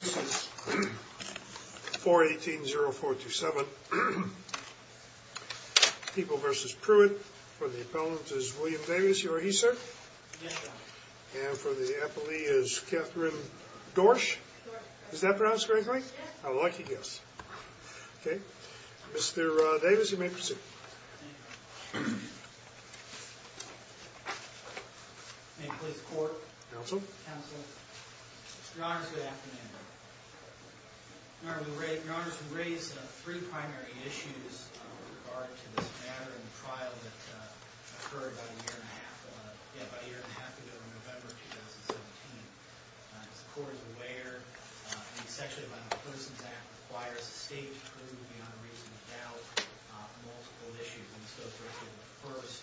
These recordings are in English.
This is 418-0427. People v. Pruett. For the appellant is William Davis. You are he, sir? Yes, Your Honor. And for the appellee is Catherine Dorsch? Dorsch, correct. Is that pronounced correctly? Yes. A lucky guess. Okay. Mr. Davis, you may proceed. Thank you, Your Honor. May it please the Court. Counsel. Counsel. Your Honors, good afternoon. Your Honors, we raise three primary issues with regard to this matter and the trial that occurred about a year and a half ago, in November of 2017. As the Court is aware, the Section of the Violent Criminals Act requires the State to prove the honorees without multiple issues. And so this is the first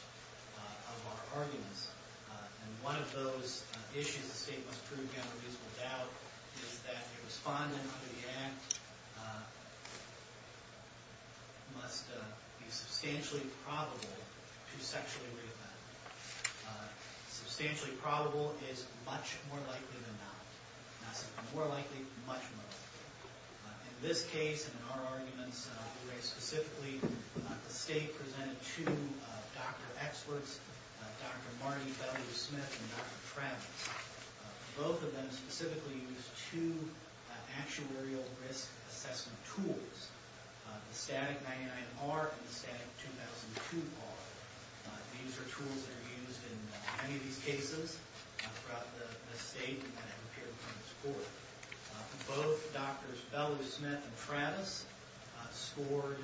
of our arguments. And one of those issues the State must prove the honorees without is that the respondent to the act must be substantially probable to sexually reoffend. Substantially probable is much more likely than not. Not simply more likely, much more likely. In this case and in our arguments, we raise specifically the State presented two doctor experts, Dr. Marty W. Smith and Dr. Travis. Both of them specifically used two actuarial risk assessment tools, the static 99R and the static 2002R. These are tools that are used in many of these cases throughout the State and have appeared before this Court. Both Drs. Bellew-Smith and Travis scored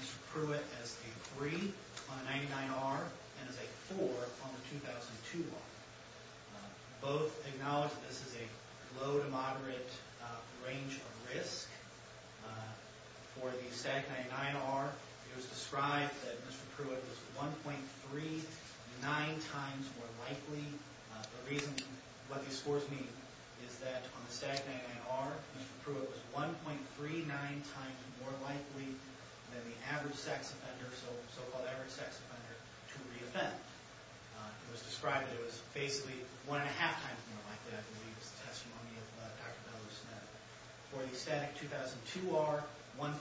Mr. Pruitt as a 3 on the 99R and as a 4 on the 2002R. Both acknowledge that this is a low to moderate range of risk. For the static 99R, it was described that Mr. Pruitt was 1.39 times more likely. The reason what these scores mean is that on the static 99R, Mr. Pruitt was 1.39 times more likely than the so-called average sex offender to reoffend. It was described that it was basically 1.5 times more likely, I believe, is the testimony of Dr. Bellew-Smith. For the static 2002R, 1.38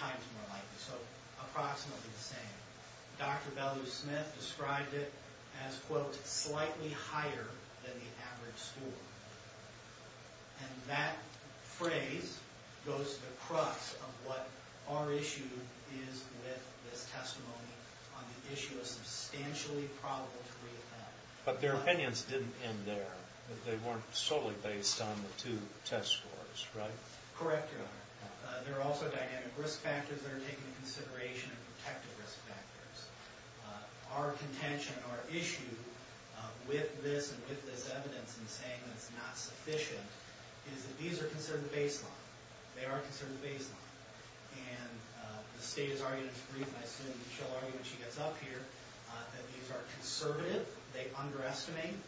times more likely, so approximately the same. Dr. Bellew-Smith described it as, quote, slightly higher than the average score. And that phrase goes to the crux of what our issue is with this testimony on the issue of substantially probable to reoffend. But their opinions didn't end there. They weren't solely based on the two test scores, right? Correct, Your Honor. There are also dynamic risk factors that are taken into consideration and protective risk factors. Our contention, our issue with this and with this evidence in saying that it's not sufficient is that these are considered the baseline. They are considered the baseline. And the State has argued in its brief, and I assume she'll argue when she gets up here, that these are conservative. They underestimate.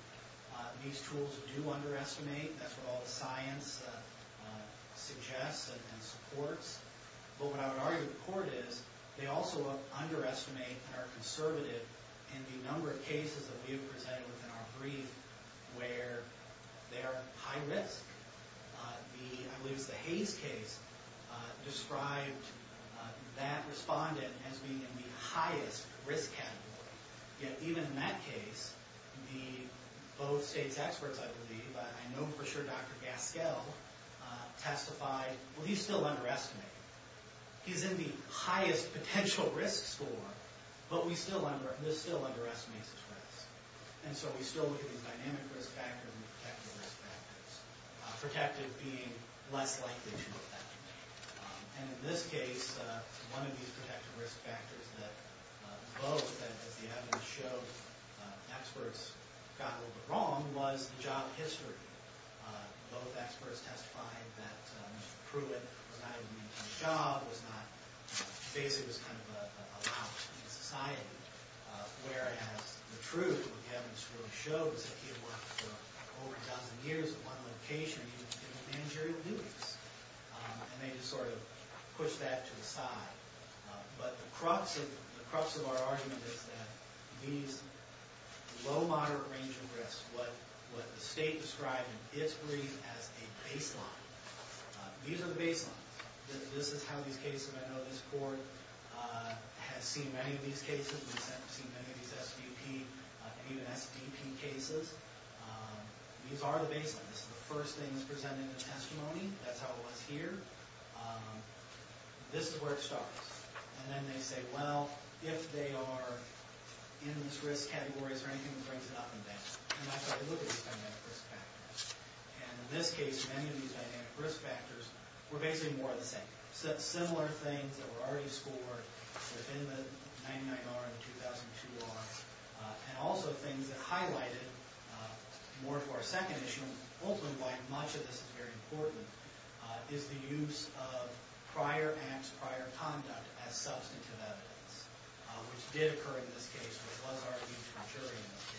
These tools do underestimate. That's what all the science suggests and supports. But what I would argue in court is they also underestimate and are conservative in the number of cases that we have presented within our brief where they are high risk. I believe it's the Hayes case described that respondent as being in the highest risk category. Yet even in that case, both State's experts, I believe, I know for sure Dr. Gaskell testified, well, he's still underestimating. He's in the highest potential risk score, but this still underestimates his risk. And so we still look at these dynamic risk factors and protective risk factors. Protective being less likely to affect me. And in this case, one of these protective risk factors that both, as the evidence showed, experts got a little bit wrong, was the job history. Both experts testified that Mr. Pruitt was not going to get a job, was not, basically was kind of a lax in society. Whereas the truth, what the evidence really shows, is that he had worked for over a dozen years at one location. And he was doing managerial duties. And they just sort of pushed that to the side. But the crux of our argument is that these low, moderate range of risks, what the State described in its brief as a baseline. These are the baselines. This is how these cases, I know this court has seen many of these cases. We've seen many of these SDP, even SDP cases. These are the baselines. This is the first thing that's presented in the testimony. That's how it was here. This is where it starts. And then they say, well, if they are in this risk category, is there anything that brings it up and down? And that's how they look at these dynamic risk factors. And in this case, many of these dynamic risk factors were basically more of the same. Similar things that were already scored within the 99R and the 2002R. And also things that highlighted more to our second issue, and ultimately why much of this is very important, is the use of prior acts, prior conduct as substantive evidence, which did occur in this case, but was argued for jury in this case.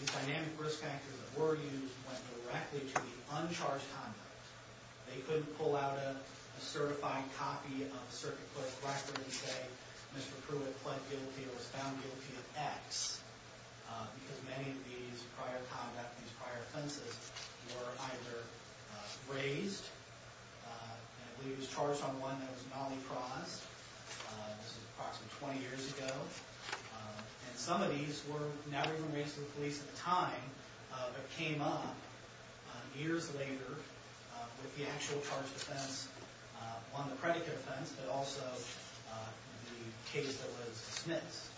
These dynamic risk factors that were used went directly to the uncharged conduct. They couldn't pull out a certified copy of a circuit court record and say, Mr. Pruitt pled guilty or was found guilty of X, because many of these prior conduct, these prior offenses, were either raised, and he was charged on one that was non-enforced. This was approximately 20 years ago. And some of these were never even raised to the police at the time, but came up years later. With the actual charged offense on the predicate offense, but also the case that was dismissed.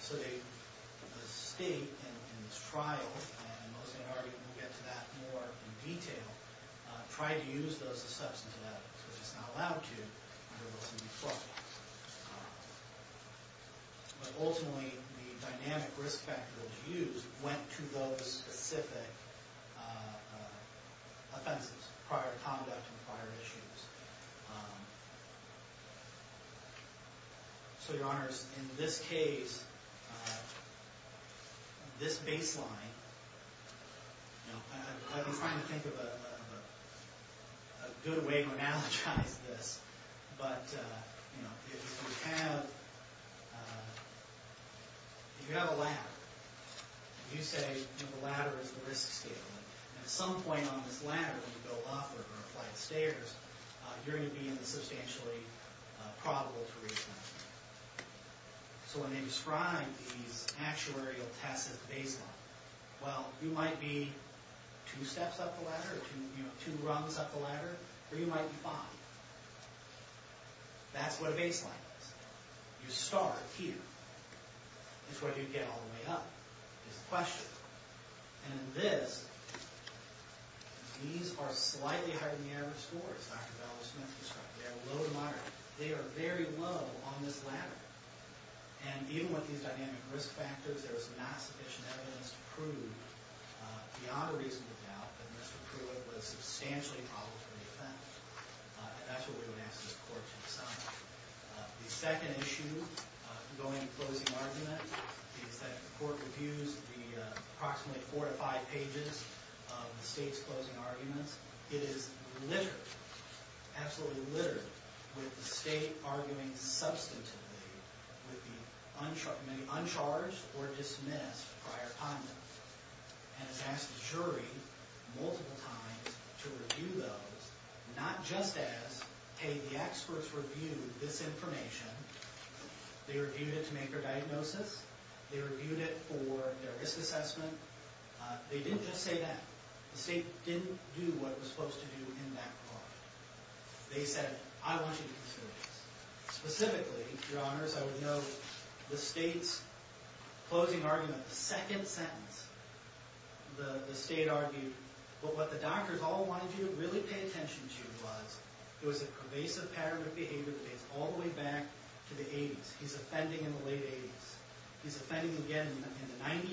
So the state, in this trial, and most of the argument will get to that more in detail, tried to use those as substantive evidence, but it's not allowed to under Wilson v. Fluff. But ultimately, the dynamic risk factors used went to those specific offenses, prior conduct and prior issues. So, Your Honors, in this case, this baseline, I've been trying to think of a good way to analogize this, but if you have a ladder, you say the ladder is the risk scaling, and at some point on this ladder, when you go up or apply the stairs, you're going to be in the substantially probable to reach that. So when they describe these actuarial tests as the baseline, well, you might be two steps up the ladder, or two rungs up the ladder, or you might be five. That's what a baseline is. You start here. That's where you get all the way up, is the question. And in this, these are slightly higher than the average score, as Dr. Bell and Smith described. They are low to moderate. They are very low on this ladder. And even with these dynamic risk factors, there was massive evidence to prove, beyond a reasonable doubt, that Mr. Pruitt was substantially probable to defend. That's what we would ask the court to decide. The second issue, going to closing argument, is that the court reviews the approximately four to five pages of the state's closing arguments. It is littered, absolutely littered, with the state arguing substantively with the uncharged or dismissed prior condoms. And it's asked the jury multiple times to review those, not just as, hey, the experts reviewed this information. They reviewed it to make their diagnosis. They reviewed it for their risk assessment. They didn't just say that. The state didn't do what it was supposed to do in that regard. They said, I want you to consider this. Specifically, Your Honors, I would note the state's closing argument, the second sentence, the state argued, what the doctors all wanted you to really pay attention to was, it was a pervasive pattern of behavior that dates all the way back to the 80s. He's offending in the late 80s. He's offending again in the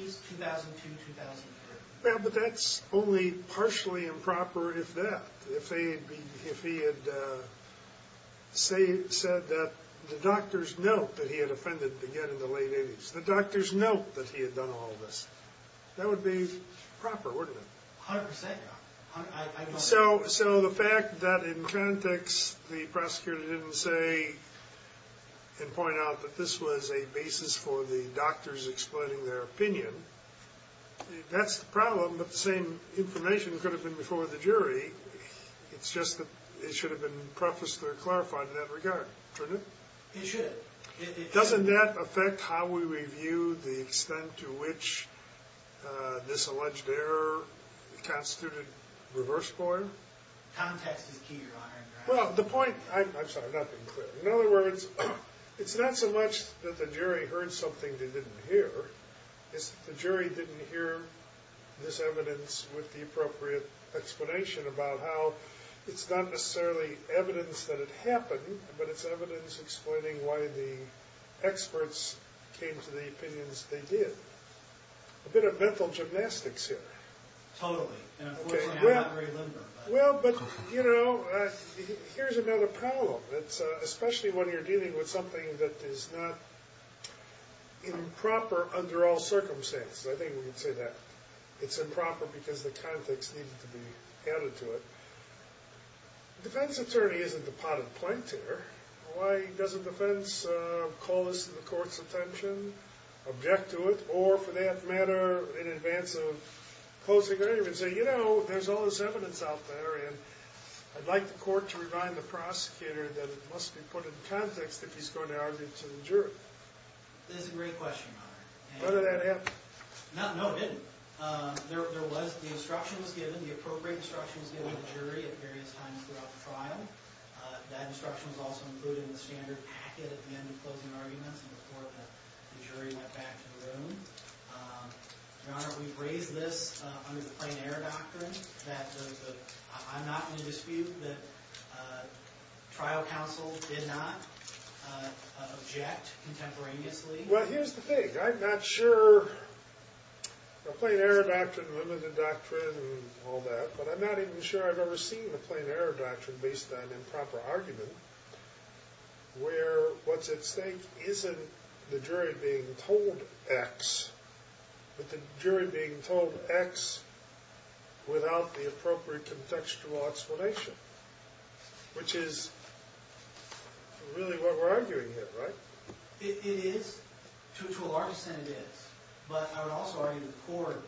90s, 2002, 2003. Well, but that's only partially improper if that. If he had said that the doctors note that he had offended again in the late 80s, the doctors note that he had done all this. That would be proper, wouldn't it? A hundred percent. So the fact that in frantics the prosecutor didn't say and point out that this was a basis for the doctors explaining their opinion, that's the problem that the same information could have been before the jury. It's just that it should have been prefaced or clarified in that regard. Shouldn't it? It should. Doesn't that affect how we review the extent to which this alleged error constituted reverse point? Context is key, Your Honor. Well, the point, I'm sorry, I'm not being clear. In other words, it's not so much that the jury heard something they didn't hear. It's that the jury didn't hear this evidence with the appropriate explanation about how it's not necessarily evidence that it happened, but it's evidence explaining why the experts came to the opinions they did. A bit of mental gymnastics here. Totally. We're not very limber. Well, but, you know, here's another problem. Especially when you're dealing with something that is not improper under all circumstances. I think we can say that. It's improper because the context needed to be added to it. The defense attorney isn't the potted plant here. Why doesn't the defense call this to the court's attention, object to it, or, for that matter, in advance of closing argument, say, you know, there's all this evidence out there, and I'd like the court to remind the prosecutor that it must be put in context if he's going to argue to the jury. That is a great question, Your Honor. Whether that happened. No, it didn't. There was, the instruction was given, the appropriate instruction was given to the jury at various times throughout the trial. That instruction was also included in the standard packet at the end of closing arguments before the jury went back to the room. Your Honor, we've raised this under the plain error doctrine, that I'm not in a dispute that trial counsel did not object contemporaneously. Well, here's the thing. I'm not sure, the plain error doctrine, limited doctrine, and all that, but I'm not even sure I've ever seen a plain error doctrine based on improper argument where what's at stake isn't the jury being told X, but the jury being told X without the appropriate contextual explanation, which is really what we're arguing here, right? It is. To a large extent, it is. But I would also argue the court,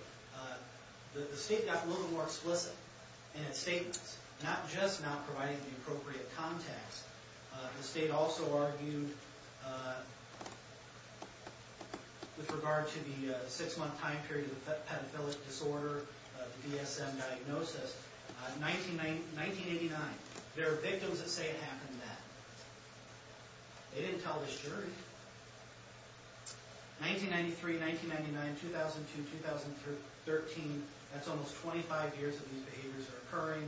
the state got a little more explicit in its statements, not just not providing the appropriate context. The state also argued, with regard to the six-month time period of the pedophilic disorder, the DSM diagnosis, 1989. There are victims that say it happened then. They didn't tell this jury. 1993, 1999, 2002, 2013, that's almost 25 years that these behaviors are occurring.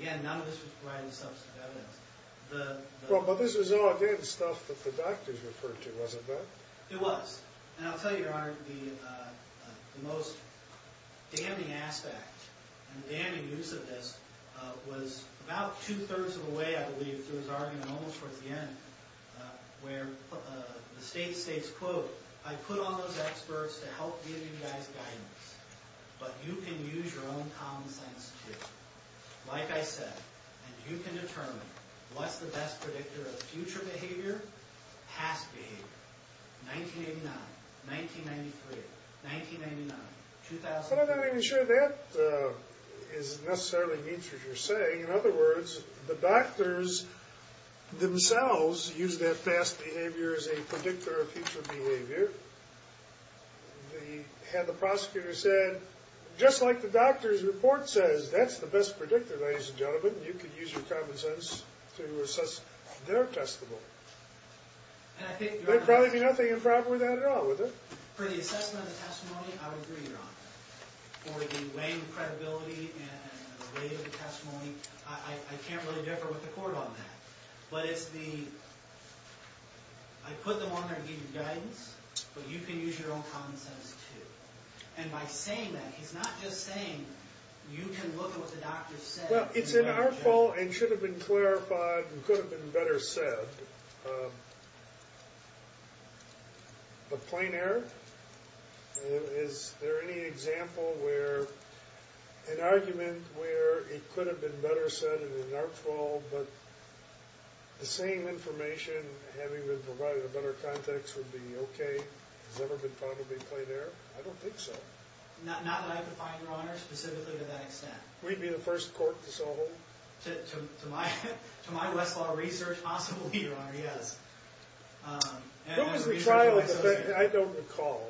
Again, none of this was provided substantive evidence. Well, but this was all again stuff that the doctors referred to, wasn't it? It was. And I'll tell you, Your Honor, the most damning aspect and damning use of this was about two-thirds of the way, I believe, through his argument, almost towards the end, where the state states, quote, I put on those experts to help give you guys guidance. But you can use your own common sense, too. Like I said, you can determine what's the best predictor of future behavior, past behavior. 1989, 1993, 1999, 2000. But I'm not even sure that is necessarily neat, as you're saying. In other words, the doctors themselves used that past behavior as a predictor of future behavior. They had the prosecutor said, just like the doctor's report says, that's the best predictor, ladies and gentlemen. You can use your common sense to assess their testimony. There'd probably be nothing improper with that at all, would there? For the weighing of credibility and the weight of the testimony, I can't really differ with the court on that. But it's the, I put them on there to give you guidance, but you can use your own common sense, too. And by saying that, he's not just saying you can look at what the doctor said. Well, it's in our fault and should have been clarified and could have been better said. But plain error? Is there any example where, an argument where it could have been better said and in our fault, but the same information having been provided in a better context would be okay? Has it ever been found to be plain error? I don't think so. Not that I could find, Your Honor, specifically to that extent. We'd be the first court to solve it. To my Westlaw research, possibly, Your Honor, yes. Who was the trial defense? I don't recall.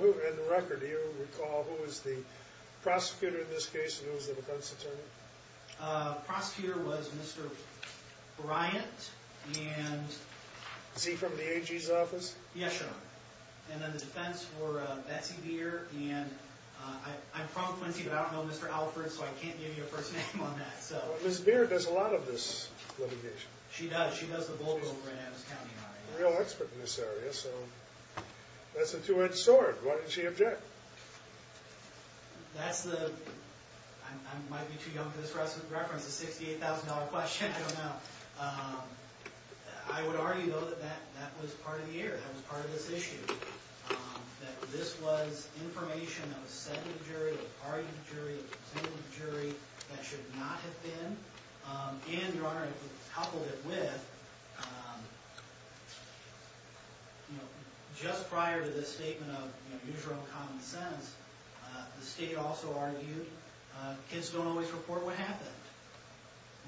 In the record, do you recall who was the prosecutor in this case and who was the defense attorney? Prosecutor was Mr. Bryant. Is he from the AG's office? Yes, Your Honor. And then the defense were Betsy Beer and I'm from Quincy, but I don't know Mr. Alford, so I can't give you a first name on that. Ms. Beer does a lot of this litigation. She does. She does the bulk over in Adams County, Your Honor. A real expert in this area, so that's a two-edged sword. Why didn't she object? That's the, I might be too young for this reference, the $68,000 question. I don't know. I would argue, though, that that was part of the error. That was part of this issue. That this was information that was said to the jury, argued to the jury, presented to the jury, that should not have been. And, Your Honor, coupled it with, just prior to this statement of neutral and common sense, the state also argued, kids don't always report what happened.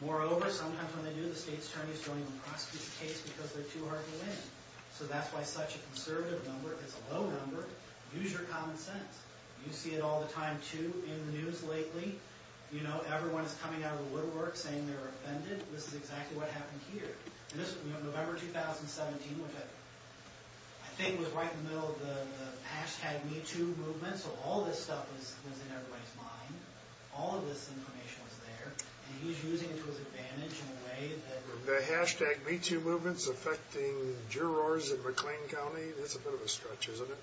Moreover, sometimes when they do, the state's attorneys don't even prosecute the case because they're too hard to win. So that's why such a conservative number is a low number. Use your common sense. You see it all the time, too, in the news lately. You know, everyone is coming out of the woodwork saying they're offended. This is exactly what happened here. In November 2017, which I think was right in the middle of the hashtag MeToo movement, so all this stuff was in everybody's mind. All of this information was there. And he's using it to his advantage in a way that... The hashtag MeToo movement is affecting jurors in McLean County. That's a bit of a stretch, isn't it?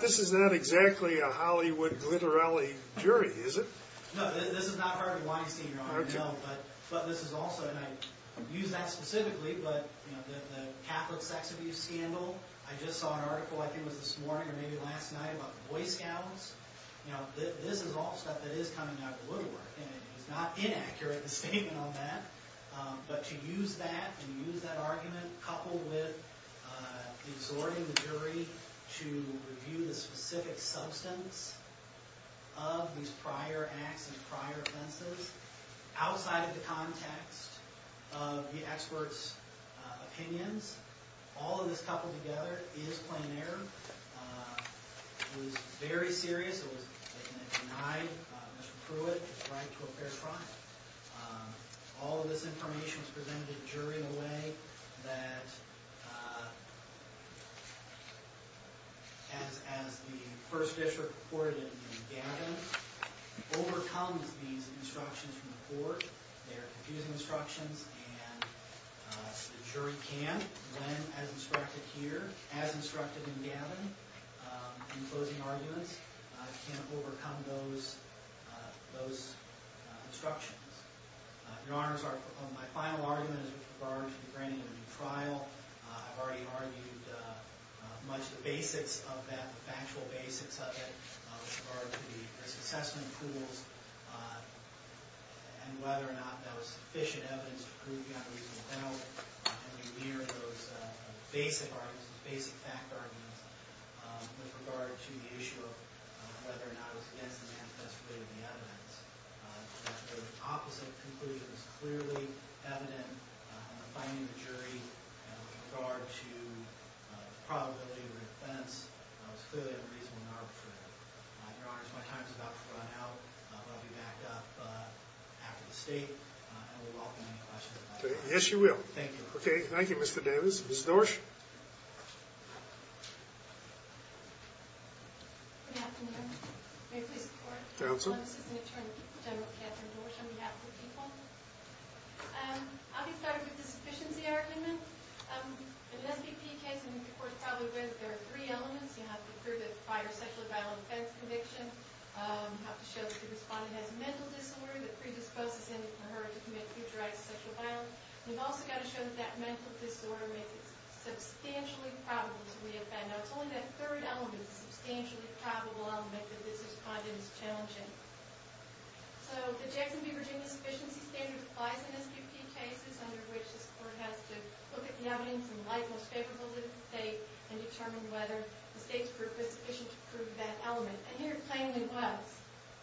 This is not exactly a Hollywood glitter alley jury, is it? No, this is not Harvey Weinstein, Your Honor. But this is also, and I use that specifically, but the Catholic sex abuse scandal, I just saw an article, I think it was this morning or maybe last night, about the Boy Scouts. This is all stuff that is coming out of the woodwork. And he's not inaccurate in his statement on that. But to use that, to use that argument, coupled with exhorting the jury to review the specific substance of these prior acts and prior offenses, outside of the context of the experts' opinions, all of this coupled together is plain error. It was very serious. It denied Mr. Pruitt the right to a fair trial. All of this information was presented to the jury in a way that... As the first district court in Gavin overcomes these obstructions from the court, they are confusing obstructions, and the jury can, as instructed here, as instructed in Gavin, in closing arguments, can overcome those obstructions. Your Honors, my final argument is with regard to the granting of a new trial. I've already argued much of the basics of that, the factual basics of it, with regard to the risk assessment tools and whether or not that was sufficient evidence to prove Gavin's innocence. And we rear those basic arguments, with regard to the issue of whether or not it was against the manifest way of the evidence. The opposite conclusion is clearly evident in the finding of the jury with regard to the probability of an offense that was clearly unreasonable and arbitrary. Your Honors, my time is about to run out. I'll be back up after the state, and we'll welcome any questions. Thank you. Okay, thank you, Mr. Davis. Ms. Dorsch? Good afternoon. May I please report? Counsel? I'm Assistant Attorney General Katherine Dorsch on behalf of the people. I'll be starting with the sufficiency argument. In an SBP case, and the Court's probably read, there are three elements. You have to prove that prior sexually violent offense conviction. You have to show that the respondent has a mental disorder that predisposes him or her to commit future acts of sexual violence. You've also got to show that that mental disorder makes it substantially probable to re-offend. Now, it's only that third element, the substantially probable element, that this respondent is challenging. So, the Jackson v. Virginia sufficiency standard applies in SBP cases, under which this Court has to look at the evidence and light most favorable to the state and determine whether the state's proof is sufficient to prove that element. And here it plainly was.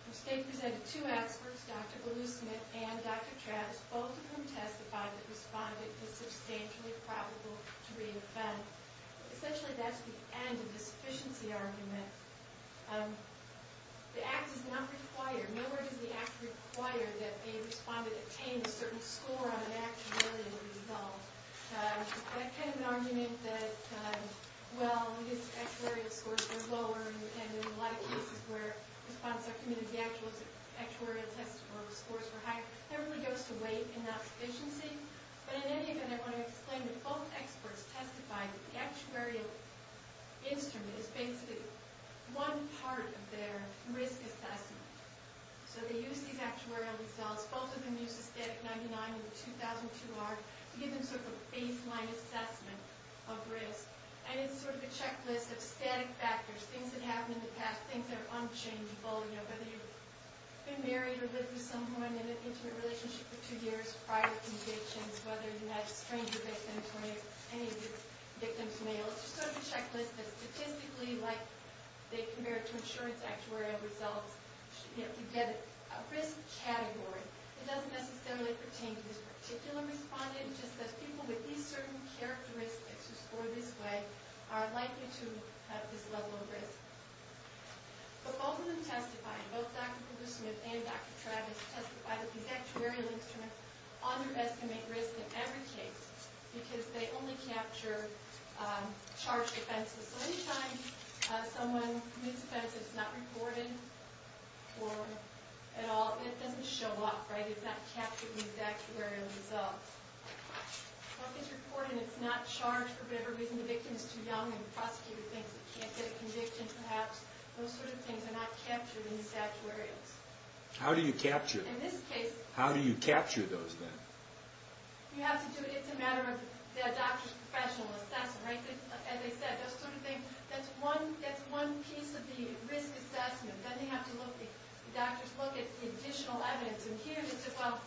The state presented two experts, Dr. Bellew-Smith and Dr. Travis, both of whom testified that the respondent is substantially probable to re-offend. Essentially, that's the end of the sufficiency argument. The act does not require... Nowhere does the act require that a respondent attain a certain score on an act to really be resolved. That's kind of an argument that, well, these actuarial scores were lower, and there were a lot of cases where the respondent submitted the actual actuarial test where the scores were higher. That really goes to weight and not sufficiency. But in any event, I want to explain that both experts testified that the actuarial instrument is basically one part of their risk assessment. So they used these actuarial results. Both of them used a static 99 in the 2002 art to give them sort of a baseline assessment of risk. And it's sort of a checklist of static factors, things that happened in the past, things that are unchangeable, you know, whether you've been married or lived with someone in an intimate relationship for two years, prior convictions, whether you met a stranger victim or any of the victims' males. It's sort of a checklist that statistically, like they compare it to insurance actuarial results, you get a risk category. It doesn't necessarily pertain to this particular respondent. It's just that people with these certain characteristics who scored this way are likely to have this level of risk. But both of them testified, both Dr. Kuglesmith and Dr. Travis, testified with these actuarial instruments on their estimate risk in every case because they only capture charged offenses. So any time someone commits an offense that's not reported or at all, it doesn't show up, right? It's not captured in these actuarial results. If something's reported and it's not charged for whatever reason, the victim is too young and the prosecutor thinks he can't get a conviction, perhaps those sort of things are not captured in these actuarials. How do you capture them? How do you capture those then? You have to do it, it's a matter of the doctor's professional assessment, right? As I said, those sort of things, that's one piece of the risk assessment. Then they have to look, the doctors look at the additional evidence. And here they said, well,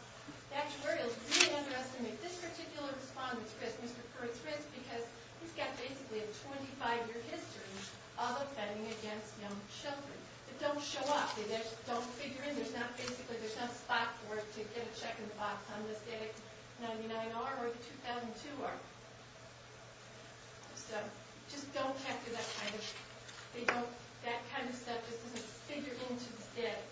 the actuarial's really underestimating this particular respondent's risk, Mr. Curry's risk, because he's got basically a 25-year history of offending against young children. They don't show up, they just don't figure in, there's not basically, there's no spot for it to get a check in the box on this date, 99R or 2002R. So, just don't capture that kind of, that kind of stuff just isn't figured into the state.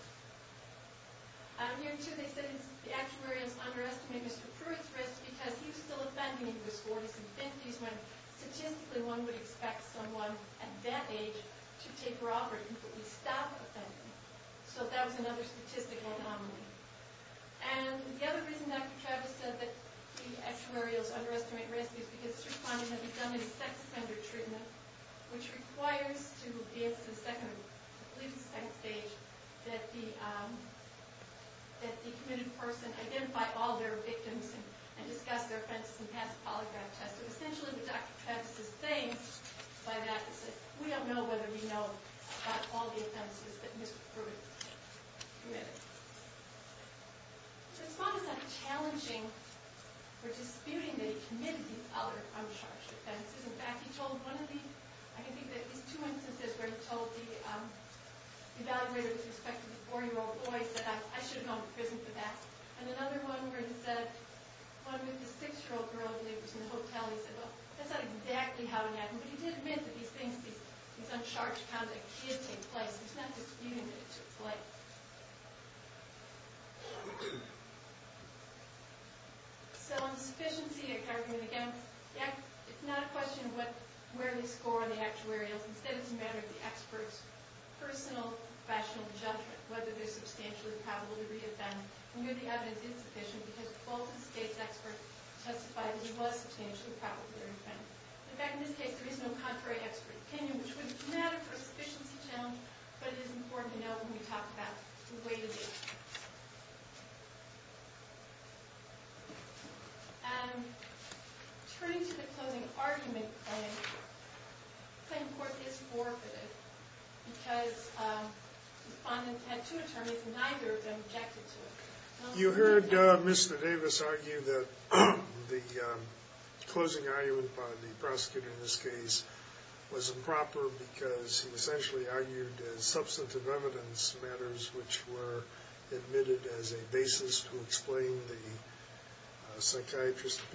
Here too, they said the actuarial's underestimating Mr. Pruitt's risk because he was still offending when he was 40s and 50s, when statistically one would expect someone at that age to take robbery, but we stopped offending. So that was another statistical anomaly. And the other reason Dr. Travis said that the actuarial's underestimating risk is because this respondent had been done in a sex offender treatment, which requires to be at the second, I believe it's the second stage, that the, that the committed person identify all their victims and discuss their offenses and pass a polygraph test. So essentially what Dr. Travis is saying by that is that we don't know whether we know about all the offenses that Mr. Pruitt committed. The respondent's not challenging or disputing that he committed these other uncharged offenses. In fact, he told one of these, I can think of at least two instances where he told the evaluator with respect to the four-year-old boy, said, I should have gone to prison for that. And another one where he said, one with the six-year-old girl who lives in the hotel, he said, well, that's not exactly how it happened. But he did admit that he thinks these uncharged conducts did take place. He's not disputing that it took place. So on the sufficiency of chargement, again, it's not a question of where they score on the actuarial. Instead, it's a matter of the expert's personal, professional judgment whether they're substantially probable to re-offend. And here the evidence is sufficient because both the state's experts testify that he was substantially probable to re-offend. In fact, in this case, there is no contrary expert opinion, which would matter for a sufficiency challenge, but it is important to know when we talk about the way to do it. And turning to the closing argument claim, the claim of course is forfeited because the defendant had two attorneys and neither of them objected to it. You heard Mr. Davis argue that the closing argument by the prosecutor in this case was improper because he essentially argued as substantive evidence matters which were admitted as a basis to explain the psychiatrist's opinion.